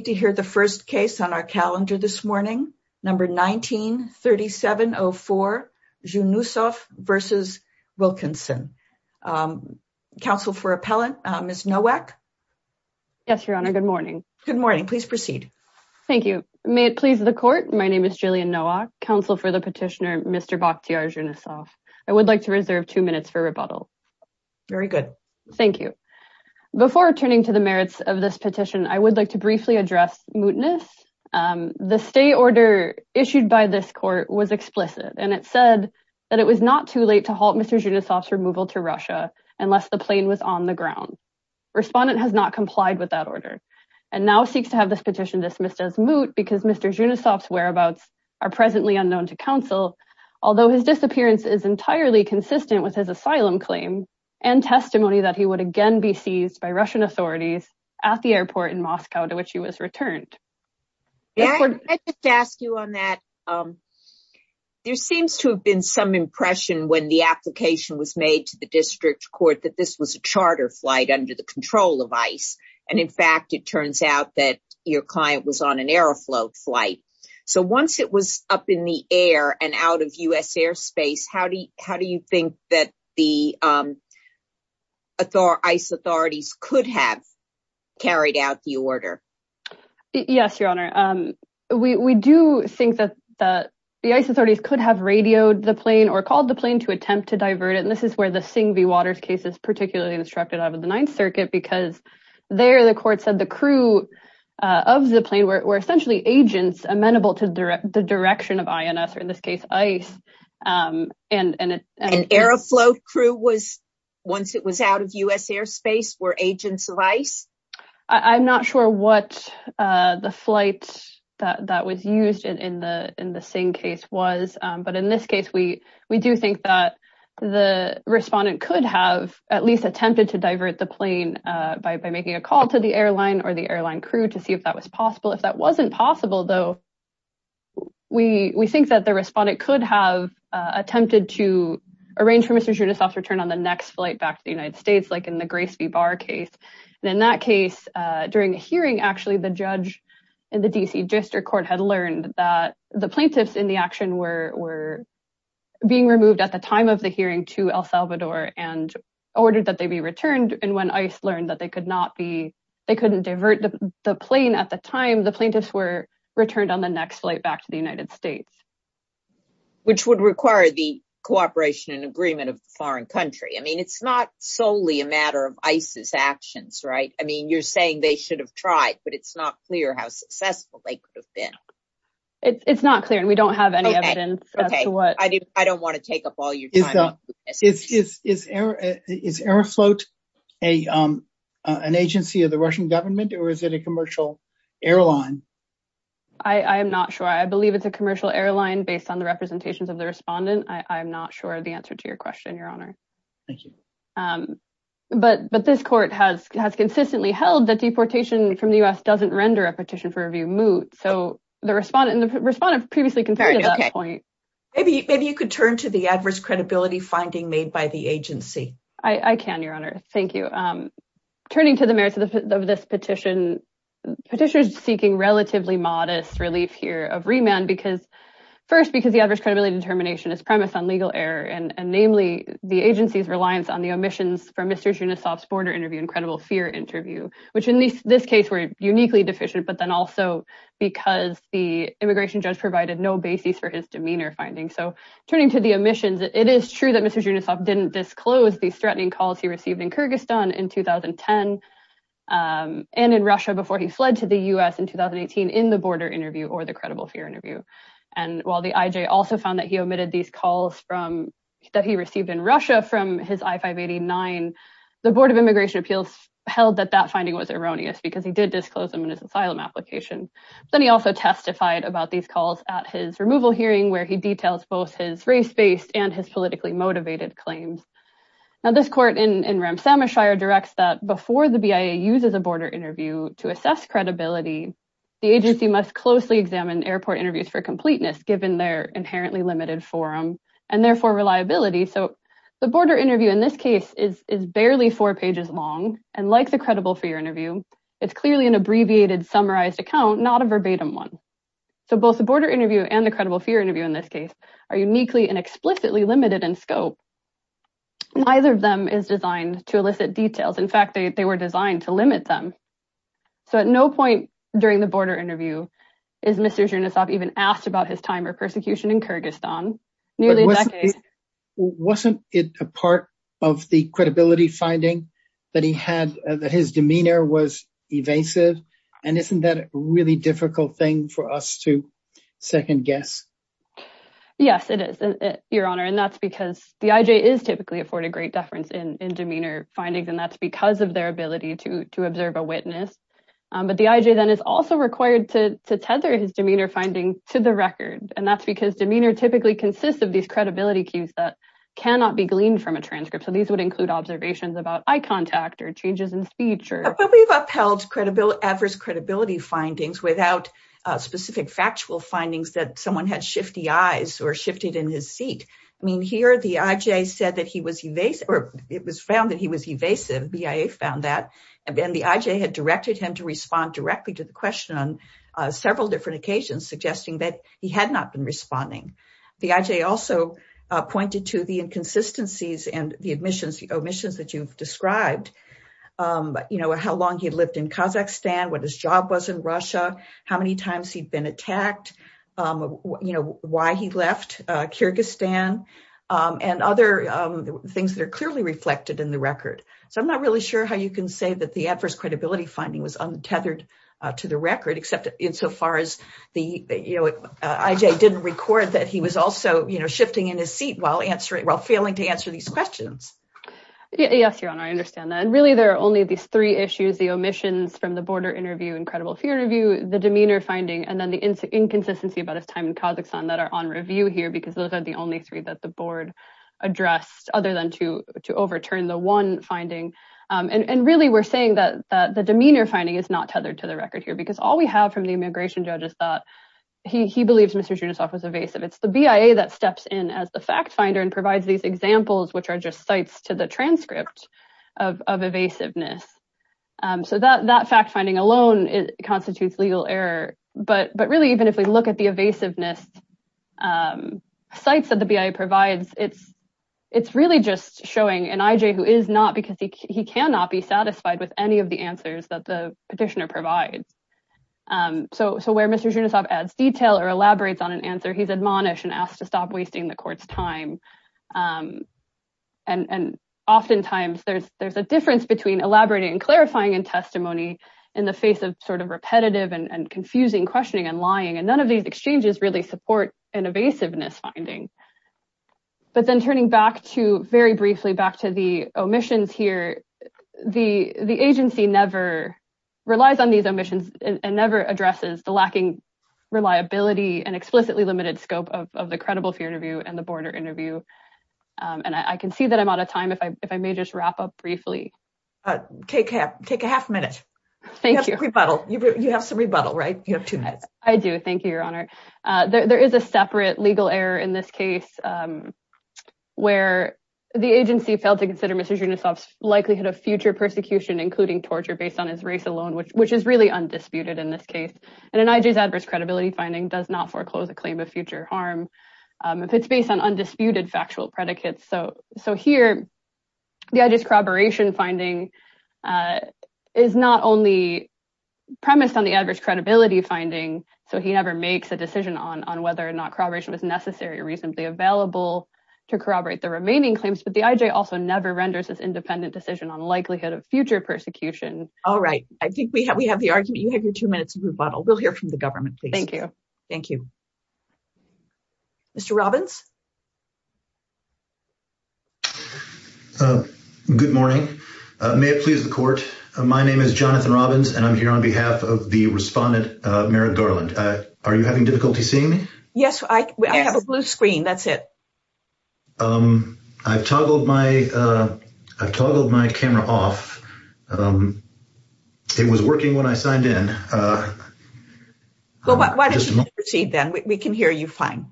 Counsel for the Petitioner, Mr. Bakhtiar Zhunusov. I would like to reserve two minutes for rebuttal. Very good. Thank you. Before returning to the merits of this petition, I would like to briefly address mootness. The stay order issued by this court was explicit and it said that it was not too late to halt Mr. Zhunusov's removal to Russia unless the plane was on the ground. Respondent has not complied with that order and now seeks to have this petition dismissed as moot because Mr. Zhunusov's whereabouts are presently unknown to counsel, although his disappearance is entirely consistent with his asylum claim and testimony that he would again be seized by Russian authorities at the airport in Moscow to which he was returned. I just ask you on that. There seems to have been some impression when the application was made to the district court that this was a charter flight under the control of ICE and in fact it turns out that your client was on an Aeroflot flight. So once it was up in the air and out of U.S. airspace, how do you think that the ICE authorities could have carried out the order? Yes, Your Honor. We do think that the ICE authorities could have radioed the plane or called the plane to attempt to divert it and this is where the Singh v. Waters case is particularly instructed out of the Ninth Circuit because there the court said the crew of the plane were essentially agents amenable to the direction of INS or in this case ICE. An Aeroflot crew once it was out of U.S. airspace were agents of ICE? I'm not sure what the flight that was used in the Singh case was, but in this case we do think that the respondent could have at least attempted to divert the plane by making a call to the airline or the airline crew to see if that was possible. If that wasn't possible though, we think that the respondent could have attempted to arrange for Mr. Judisoff's return on the next flight back to the United States like in the Grace v. Barr case and in that case during a hearing actually the judge in the D.C. District Court had learned that the plaintiffs in the action were being removed at the time of the hearing to El Salvador and ordered that they be returned and when ICE learned that they could not be they couldn't divert the plane at the time the plaintiffs were returned on the next flight back to the United States. Which would require the cooperation and agreement of the foreign country. I mean it's not solely a matter of ICE's actions, right? I mean you're saying they should have tried but it's not clear how successful they could have been. It's not clear and we don't have any evidence. Okay, I don't want to take up all your time. Is Aeroflot an agency of the Russian government or is it a commercial airline? I am not sure. I believe it's a commercial airline based on the representations of the respondent. I'm not sure the answer to your question, your honor. Thank you. But this court has consistently held that deportation from the U.S. doesn't render a petition for review moot. So the respondent and the respondent previously confirmed that point. Maybe you could turn to the adverse credibility finding made by the agency. I can, your honor. Thank you. Turning to the merits of this petition. Petitioners seeking relatively modest relief here of remand because first because the adverse credibility determination is premised on legal error and namely the agency's reliance on the omissions from Mr. Zhunasov's border interview and credible fear interview. Which in this case were uniquely deficient but then also because the immigration judge provided no basis for his demeanor finding. So turning to the omissions, it is true that Mr. Zhunasov didn't disclose these threatening calls he received in Kyrgyzstan in 2010 and in Russia before he fled to the U.S. in 2018 in the border interview or the credible fear interview. And while the IJ also found that he omitted these calls that he received in Russia from his I-589, the Board of Immigration Appeals held that that finding was erroneous because he did disclose them in his asylum application. Then he also testified about these calls at his removal hearing where he details both his race-based and his politically motivated claims. Now this court in Ramsamishire directs that before the BIA uses a border interview to assess credibility, the agency must closely examine airport interviews for completeness given their inherently limited forum and therefore reliability. So the border interview in this case is barely four pages long and like the credible fear interview, it's clearly an abbreviated summarized account not a verbatim one. So both the border interview and the credible fear interview in this case are uniquely and explicitly limited in scope. Neither of them is designed to elicit details. In fact, they were designed to limit them. So at no point during the border interview is Mr. Zhunasov even asked about his time or persecution in Kyrgyzstan. Wasn't it a part of the credibility finding that his demeanor was evasive? And isn't that a really difficult thing for us to second guess? Yes, it is, Your Honor. And that's because the IJ is typically afforded great deference in demeanor findings and that's because of their ability to observe a witness. But the IJ then is also required to tether his demeanor finding to the record. And that's because demeanor typically consists of these credibility cues that cannot be gleaned from a transcript. So these would include observations about eye contact or changes in speech. But we've upheld adverse credibility findings without specific factual findings that someone had shifty eyes or shifted in his seat. I mean, here the IJ said that he was evasive or it was found that he was evasive. BIA found that. And then the IJ had he had not been responding. The IJ also pointed to the inconsistencies and the omissions that you've described, how long he lived in Kazakhstan, what his job was in Russia, how many times he'd been attacked, why he left Kyrgyzstan, and other things that are clearly reflected in the record. So I'm not really sure how you can say that the adverse credibility finding was untethered to the record, except in so far as the IJ didn't record that he was also, you know, shifting in his seat while answering while failing to answer these questions. Yes, Your Honor, I understand that. And really, there are only these three issues, the omissions from the border interview, incredible fear review, the demeanor finding, and then the inconsistency about his time in Kazakhstan that are on review here, because those are the only three that the board addressed other than to to overturn the one And really, we're saying that the demeanor finding is not tethered to the record here, because all we have from the immigration judge is that he believes Mr. Zhirinovsky was evasive. It's the BIA that steps in as the fact finder and provides these examples, which are just sites to the transcript of evasiveness. So that fact finding alone constitutes legal error. But really, even if we look at the evasiveness sites that the BIA provides, it's really just showing an IJ who is not because he cannot be satisfied with any of the answers that the petitioner provides. So where Mr. Zhirinovsky adds detail or elaborates on an answer, he's admonished and asked to stop wasting the court's time. And oftentimes, there's a difference between elaborating and clarifying and testimony in the face of sort of repetitive and confusing questioning and lying. And none of these exchanges really support an evasiveness finding. But then turning back to, very briefly, back to the omissions here, the agency never relies on these omissions and never addresses the lacking reliability and explicitly limited scope of the credible fear interview and the border interview. And I can see that I'm out of time, if I may just wrap up briefly. Take a half minute. You have some rebuttal, right? You have two minutes. I do. Thank you, Your Honor. There is a case where the agency failed to consider Mr. Zhirinovsky's likelihood of future persecution, including torture, based on his race alone, which is really undisputed in this case. And an IJ's adverse credibility finding does not foreclose a claim of future harm if it's based on undisputed factual predicates. So here, the IJ's corroboration finding is not only premised on the adverse credibility finding, so he never makes a decision on whether or not corroboration was necessary or available to corroborate the remaining claims, but the IJ also never renders its independent decision on the likelihood of future persecution. All right. I think we have the argument. You have your two minutes of rebuttal. We'll hear from the government, please. Thank you. Thank you. Mr. Robbins? Good morning. May it please the Court. My name is Jonathan Robbins, and I'm here on behalf of Respondent Merrick Garland. Are you having difficulty seeing me? Yes. I have a blue screen. That's it. I've toggled my camera off. It was working when I signed in. Why don't you proceed, then? We can hear you fine.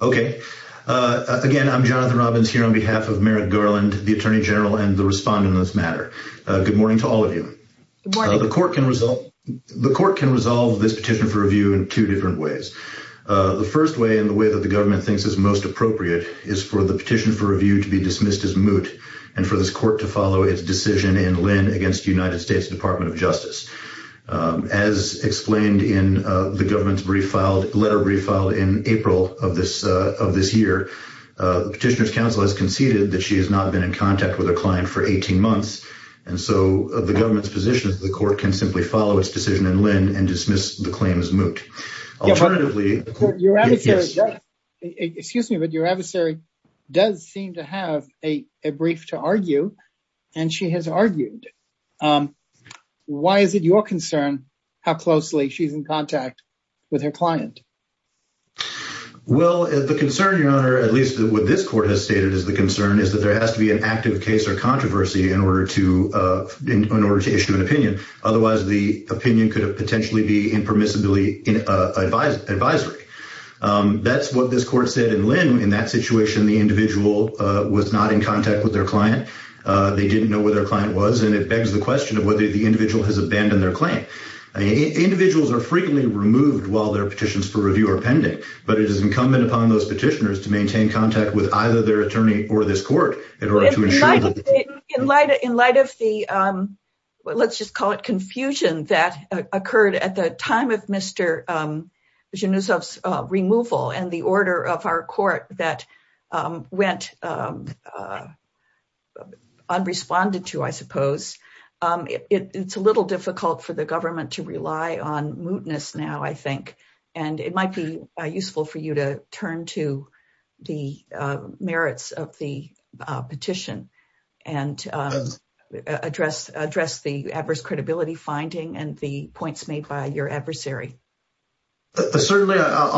Okay. Again, I'm Jonathan Robbins, here on behalf of Merrick Garland, the Attorney General, and the Respondent on this matter. Good morning to all of you. The Court can resolve this petition for review in two different ways. The first way, and the way that the government thinks is most appropriate, is for the petition for review to be dismissed as moot and for this Court to follow its decision in Lynn against the United States Department of Justice. As explained in the letter brief filed in April of this year, the Petitioner's Counsel has conceded that she has not been in contact with a client for 18 months, and so the government's position is that the Court can simply follow its decision in Lynn and dismiss the claim as moot. Your adversary does seem to have a brief to argue, and she has argued. Why is it your concern how closely she's in contact with her client? Well, the concern, Your Honor, at least what this Court has stated as the concern, is that there has to be an active case or controversy in order to issue an opinion. Otherwise, the opinion could potentially be impermissibly advisory. That's what this Court said in Lynn. In that situation, the individual was not in contact with their client. They didn't know where their client was, and it begs the question of whether the individual has abandoned their claim. Individuals are frequently removed while their petitions for review are pending, but it is incumbent upon those petitioners to maintain contact with either their attorney or this Court in order to ensure... In light of the, let's just call it confusion that occurred at the time of Mr. Zhirinov's removal and the order of our Court that went unresponded to, I suppose, it's a little difficult for the government to rely on petition and address the adverse credibility finding and the points made by your adversary. I'll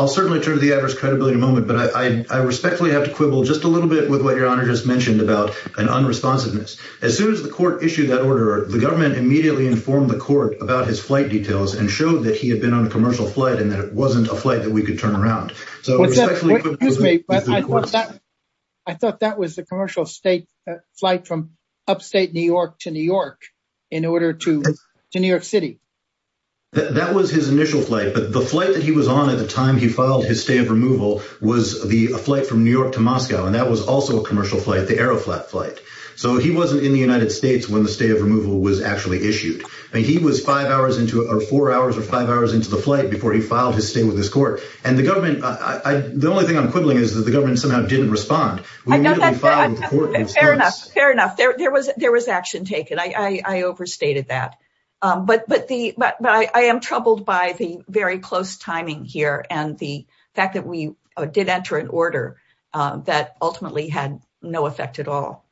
certainly turn to the adverse credibility moment, but I respectfully have to quibble just a little bit with what Your Honor just mentioned about an unresponsiveness. As soon as the Court issued that order, the government immediately informed the Court about his flight details and showed that he had been on a commercial flight and that it wasn't a flight that we could turn around. I thought that was the commercial flight from upstate New York to New York in order to New York City. That was his initial flight, but the flight that he was on at the time he filed his stay of removal was the flight from New York to Moscow, and that was also a commercial flight, the Aeroflat flight. He wasn't in the United States when the stay of removal was actually issued. He was four hours or five hours into the flight before he filed his stay with the Court. The only thing I'm quibbling is that the government somehow didn't respond. Fair enough. There was action taken. I overstated that, but I am troubled by the very close timing here and the fact that we did enter an order that ultimately had no effect at all.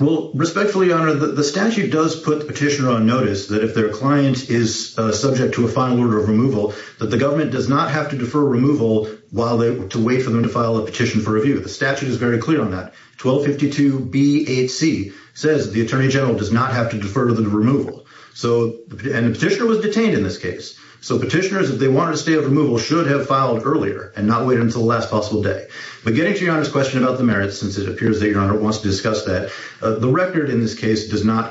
Respectfully, Your Honor, the statute does put the petitioner on notice that if their client is subject to a final order of removal, that the government does not have to defer removal while they wait for them to file a petition for review. The statute is very clear on that. 1252B8C says the Attorney General does not have to defer to the removal, and the petitioner was detained in this case. So petitioners, if they wanted to stay of removal, should have filed earlier and not wait until the last possible day. But getting to Your Honor's question about the merits, since it appears that Your Honor wants to discuss that, the record in this case does not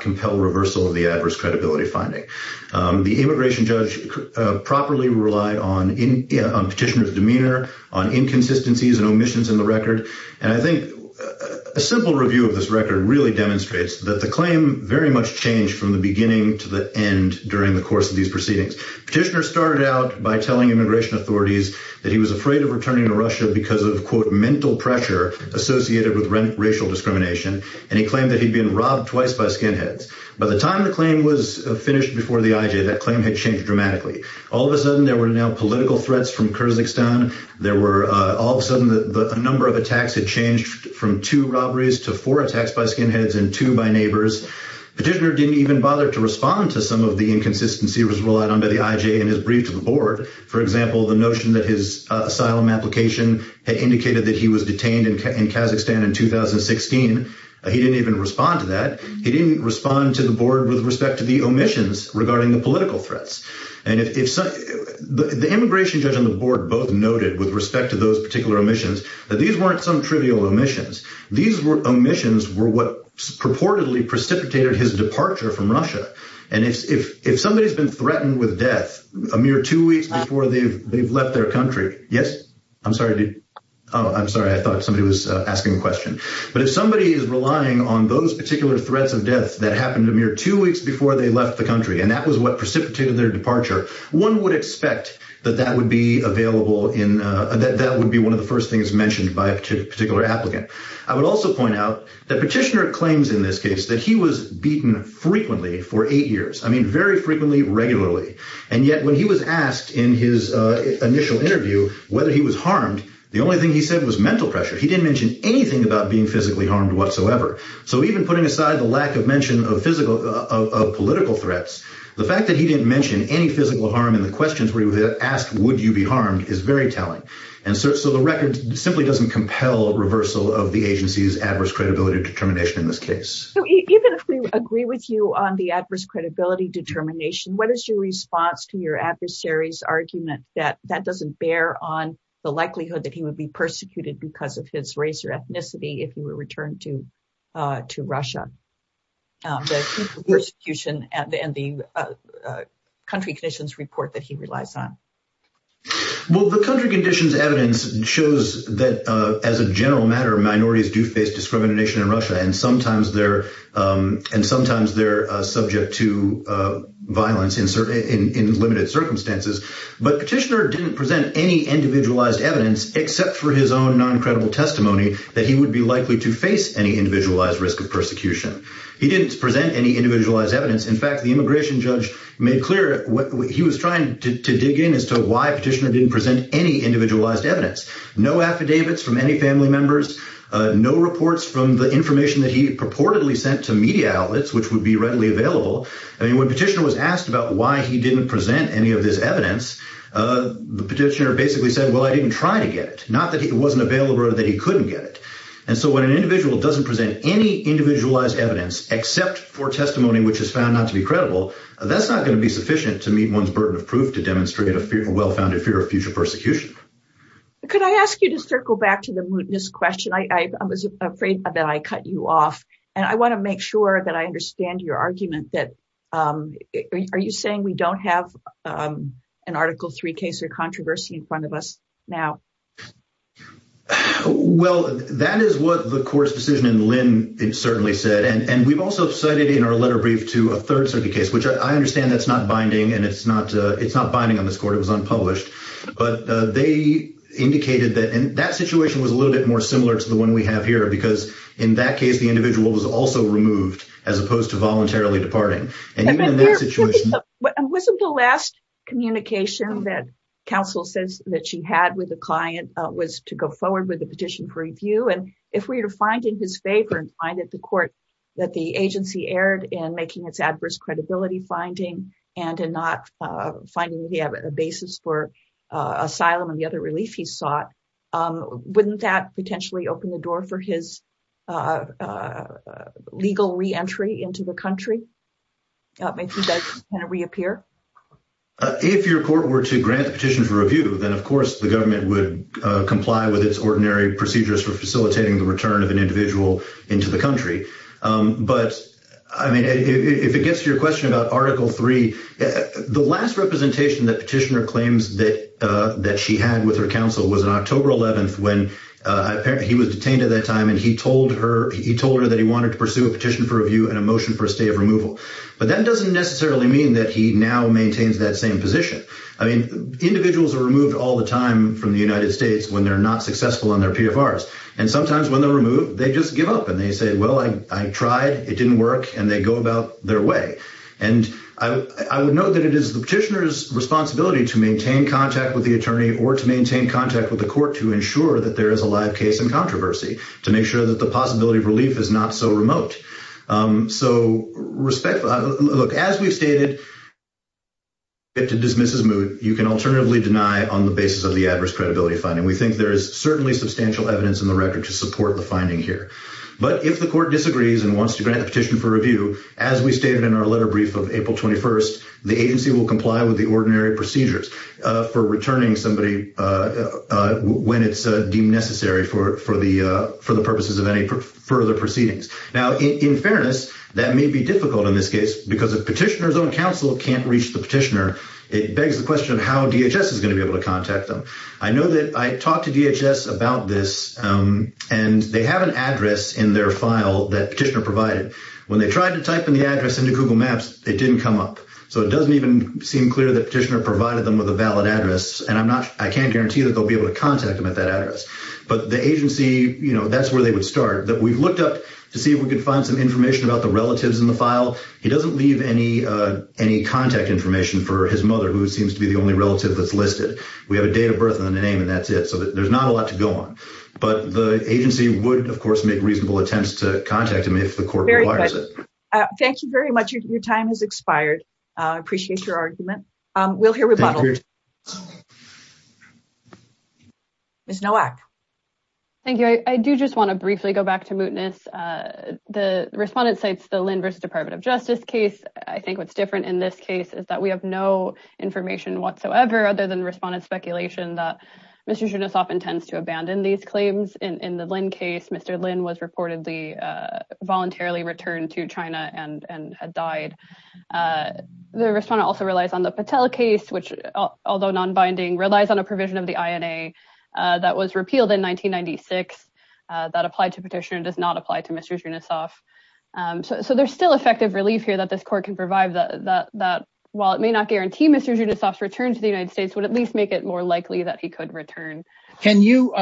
The immigration judge properly relied on petitioner's demeanor, on inconsistencies and omissions in the record. And I think a simple review of this record really demonstrates that the claim very much changed from the beginning to the end during the course of these proceedings. Petitioner started out by telling immigration authorities that he was afraid of returning to Russia because of, quote, mental pressure associated with racial discrimination, and he claimed that he'd been robbed twice by skinheads. By the time the claim was finished before the IJ, that claim had changed dramatically. All of a sudden, there were now political threats from Kazakhstan. There were, all of a sudden, the number of attacks had changed from two robberies to four attacks by skinheads and two by neighbors. Petitioner didn't even bother to respond to some of the inconsistencies relied on by the IJ in his brief to the board. For example, the notion that his asylum application had indicated that he was detained in Kazakhstan in 2016. He didn't even The immigration judge and the board both noted with respect to those particular omissions that these weren't some trivial omissions. These omissions were what purportedly precipitated his departure from Russia. And if somebody's been threatened with death a mere two weeks before they've left their country, yes? I'm sorry. Oh, I'm sorry. I thought somebody was asking a question. But if somebody is relying on those particular threats of death that happened a mere two weeks before they left the country, and that was what precipitated their departure, one would expect that that would be available in, that would be one of the first things mentioned by a particular applicant. I would also point out that Petitioner claims in this case that he was beaten frequently for eight years. I mean, very frequently, regularly. And yet when he was asked in his initial interview whether he was harmed, the only thing he said was mental pressure. He didn't mention anything about being physically harmed whatsoever. So even putting aside the lack of physical, of political threats, the fact that he didn't mention any physical harm in the questions where he was asked, would you be harmed, is very telling. And so the record simply doesn't compel reversal of the agency's adverse credibility determination in this case. So even if we agree with you on the adverse credibility determination, what is your response to your adversary's argument that that doesn't bear on the likelihood that he would be persecuted because of his race or the persecution and the country conditions report that he relies on? Well, the country conditions evidence shows that as a general matter, minorities do face discrimination in Russia, and sometimes they're subject to violence in limited circumstances. But Petitioner didn't present any individualized evidence except for his own non-credible testimony that he would be likely to face any individualized risk of persecution. He didn't present any individualized evidence. In fact, the immigration judge made clear what he was trying to dig in as to why Petitioner didn't present any individualized evidence, no affidavits from any family members, no reports from the information that he purportedly sent to media outlets, which would be readily available. I mean, when Petitioner was asked about why he didn't present any of this evidence, the petitioner basically said, well, I didn't try to get it, not that it wasn't available or that he couldn't get it. And so when an individual doesn't present any individualized evidence except for testimony which is found not to be credible, that's not going to be sufficient to meet one's burden of proof to demonstrate a well-founded fear of future persecution. Could I ask you to circle back to the mootness question? I was afraid that I cut you off, and I want to make sure that I understand your argument that, are you saying we don't have an Article III case or controversy in front of us now? Well, that is what the court's decision in Lynn certainly said. And we've also cited in our letter brief to a third circuit case, which I understand that's not binding, and it's not binding on this court, it was unpublished. But they indicated that, and that situation was a little bit more similar to the one we have here, because in that case, the individual was also removed as opposed to voluntarily departing. And even in that situation... And wasn't the last communication that counsel says that she had with the client was to go forward with the petition for review? And if we were to find in his favor and find it the court that the agency erred in making its adverse credibility finding, and in not finding the basis for asylum and the other relief he sought, wouldn't that potentially open the door for his legal re-entry into the country? If he does reappear? If your court were to grant the petition for review, then of course the government would comply with its ordinary procedures for facilitating the return of an individual into the country. But I mean, if it gets to your question about Article III, the last representation that petitioner claims that she had with her counsel was on October 11th, when apparently he was detained at that time, and he told her that he wanted to pursue a petition for review and a motion for a stay of removal. But that doesn't necessarily mean that he now maintains that same position. I mean, individuals are removed all the time from the United States when they're not successful on their PFRs. And sometimes when they're removed, they just give up and they say, well, I tried, it didn't work, and they go about their way. And I would note that it is the petitioner's responsibility to maintain contact with the attorney or to maintain contact with the court to ensure that there is a live case and controversy, to make sure that the So, respectfully, look, as we've stated, if the defendant dismisses moot, you can alternatively deny on the basis of the adverse credibility finding. We think there is certainly substantial evidence in the record to support the finding here. But if the court disagrees and wants to grant the petition for review, as we stated in our letter brief of April 21st, the agency will comply with the ordinary procedures for returning somebody when it's deemed necessary for the Now, in fairness, that may be difficult in this case, because if petitioner's own counsel can't reach the petitioner, it begs the question of how DHS is going to be able to contact them. I know that I talked to DHS about this, and they have an address in their file that petitioner provided. When they tried to type in the address into Google Maps, it didn't come up. So it doesn't even seem clear that petitioner provided them with a valid address. And I'm not, I can't guarantee that they'll be able to contact them at that address. But the agency, you know, that's where they would start, that we've looked up to see if we could find some information about the relatives in the file. He doesn't leave any contact information for his mother, who seems to be the only relative that's listed. We have a date of birth and a name, and that's it. So there's not a lot to go on. But the agency would, of course, make reasonable attempts to contact him if the court requires it. Thank you very much. Your time has expired. I appreciate your argument. We'll hear rebuttal. Ms. Nowak. Thank you. I do just want to briefly go back to Mootness. The respondent cites the Lynn versus Department of Justice case. I think what's different in this case is that we have no information whatsoever other than respondent speculation that Mr. Junosoff intends to abandon these claims. In the Lynn case, Mr. Lynn was reportedly voluntarily returned to which, although non-binding, relies on a provision of the INA that was repealed in 1996 that applied to petition and does not apply to Mr. Junosoff. So there's still effective relief here that this court can provide that while it may not guarantee Mr. Junosoff's return to the United States, would at least make it more likely that he could return. Can you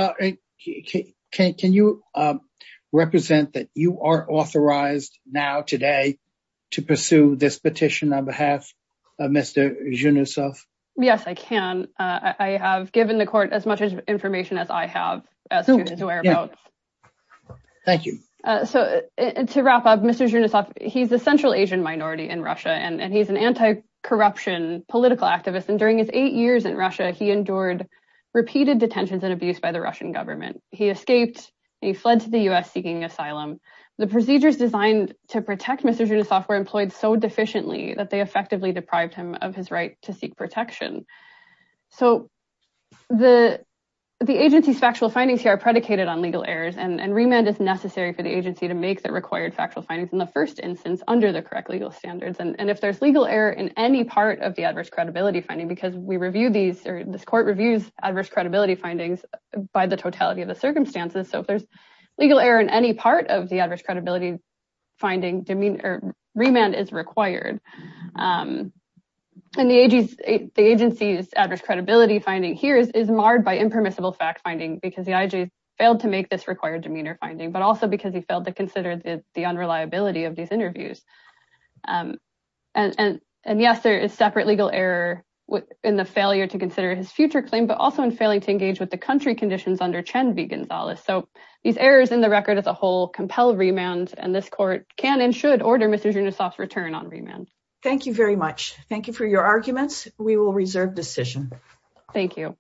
represent that you are authorized now today to pursue this petition on behalf of Mr. Junosoff? Yes, I can. I have given the court as much information as I have. Thank you. So to wrap up, Mr. Junosoff, he's a central Asian minority in Russia and he's an anti-corruption political activist. And during his eight years in Russia, he endured repeated detentions and abuse by the Russian government. He escaped, he fled to the U.S. seeking asylum. The procedures designed to protect Mr. Junosoff were employed so deficiently that they effectively deprived him of his right to seek protection. So the agency's factual findings here are predicated on legal errors and remand is necessary for the agency to make the required factual findings in the first instance under the correct legal standards. And if there's legal error in any part of the adverse credibility finding, because we review these or this court reviews adverse credibility findings by the totality of the circumstances, so if there's legal error in any part of the adverse credibility finding, remand is required. And the agency's adverse credibility finding here is marred by impermissible fact-finding because the IG failed to make this required demeanor finding, but also because he failed to consider the unreliability of these interviews. And yes, there is separate legal error in the failure to consider his future claim, but also in failing to engage with the country conditions under Chen v. Gonzalez. So these errors in the record as a whole compel remand, and this court can and should order Mr. Junosoff's return on remand. Thank you very much. Thank you for your arguments. We will reserve decision. Thank you.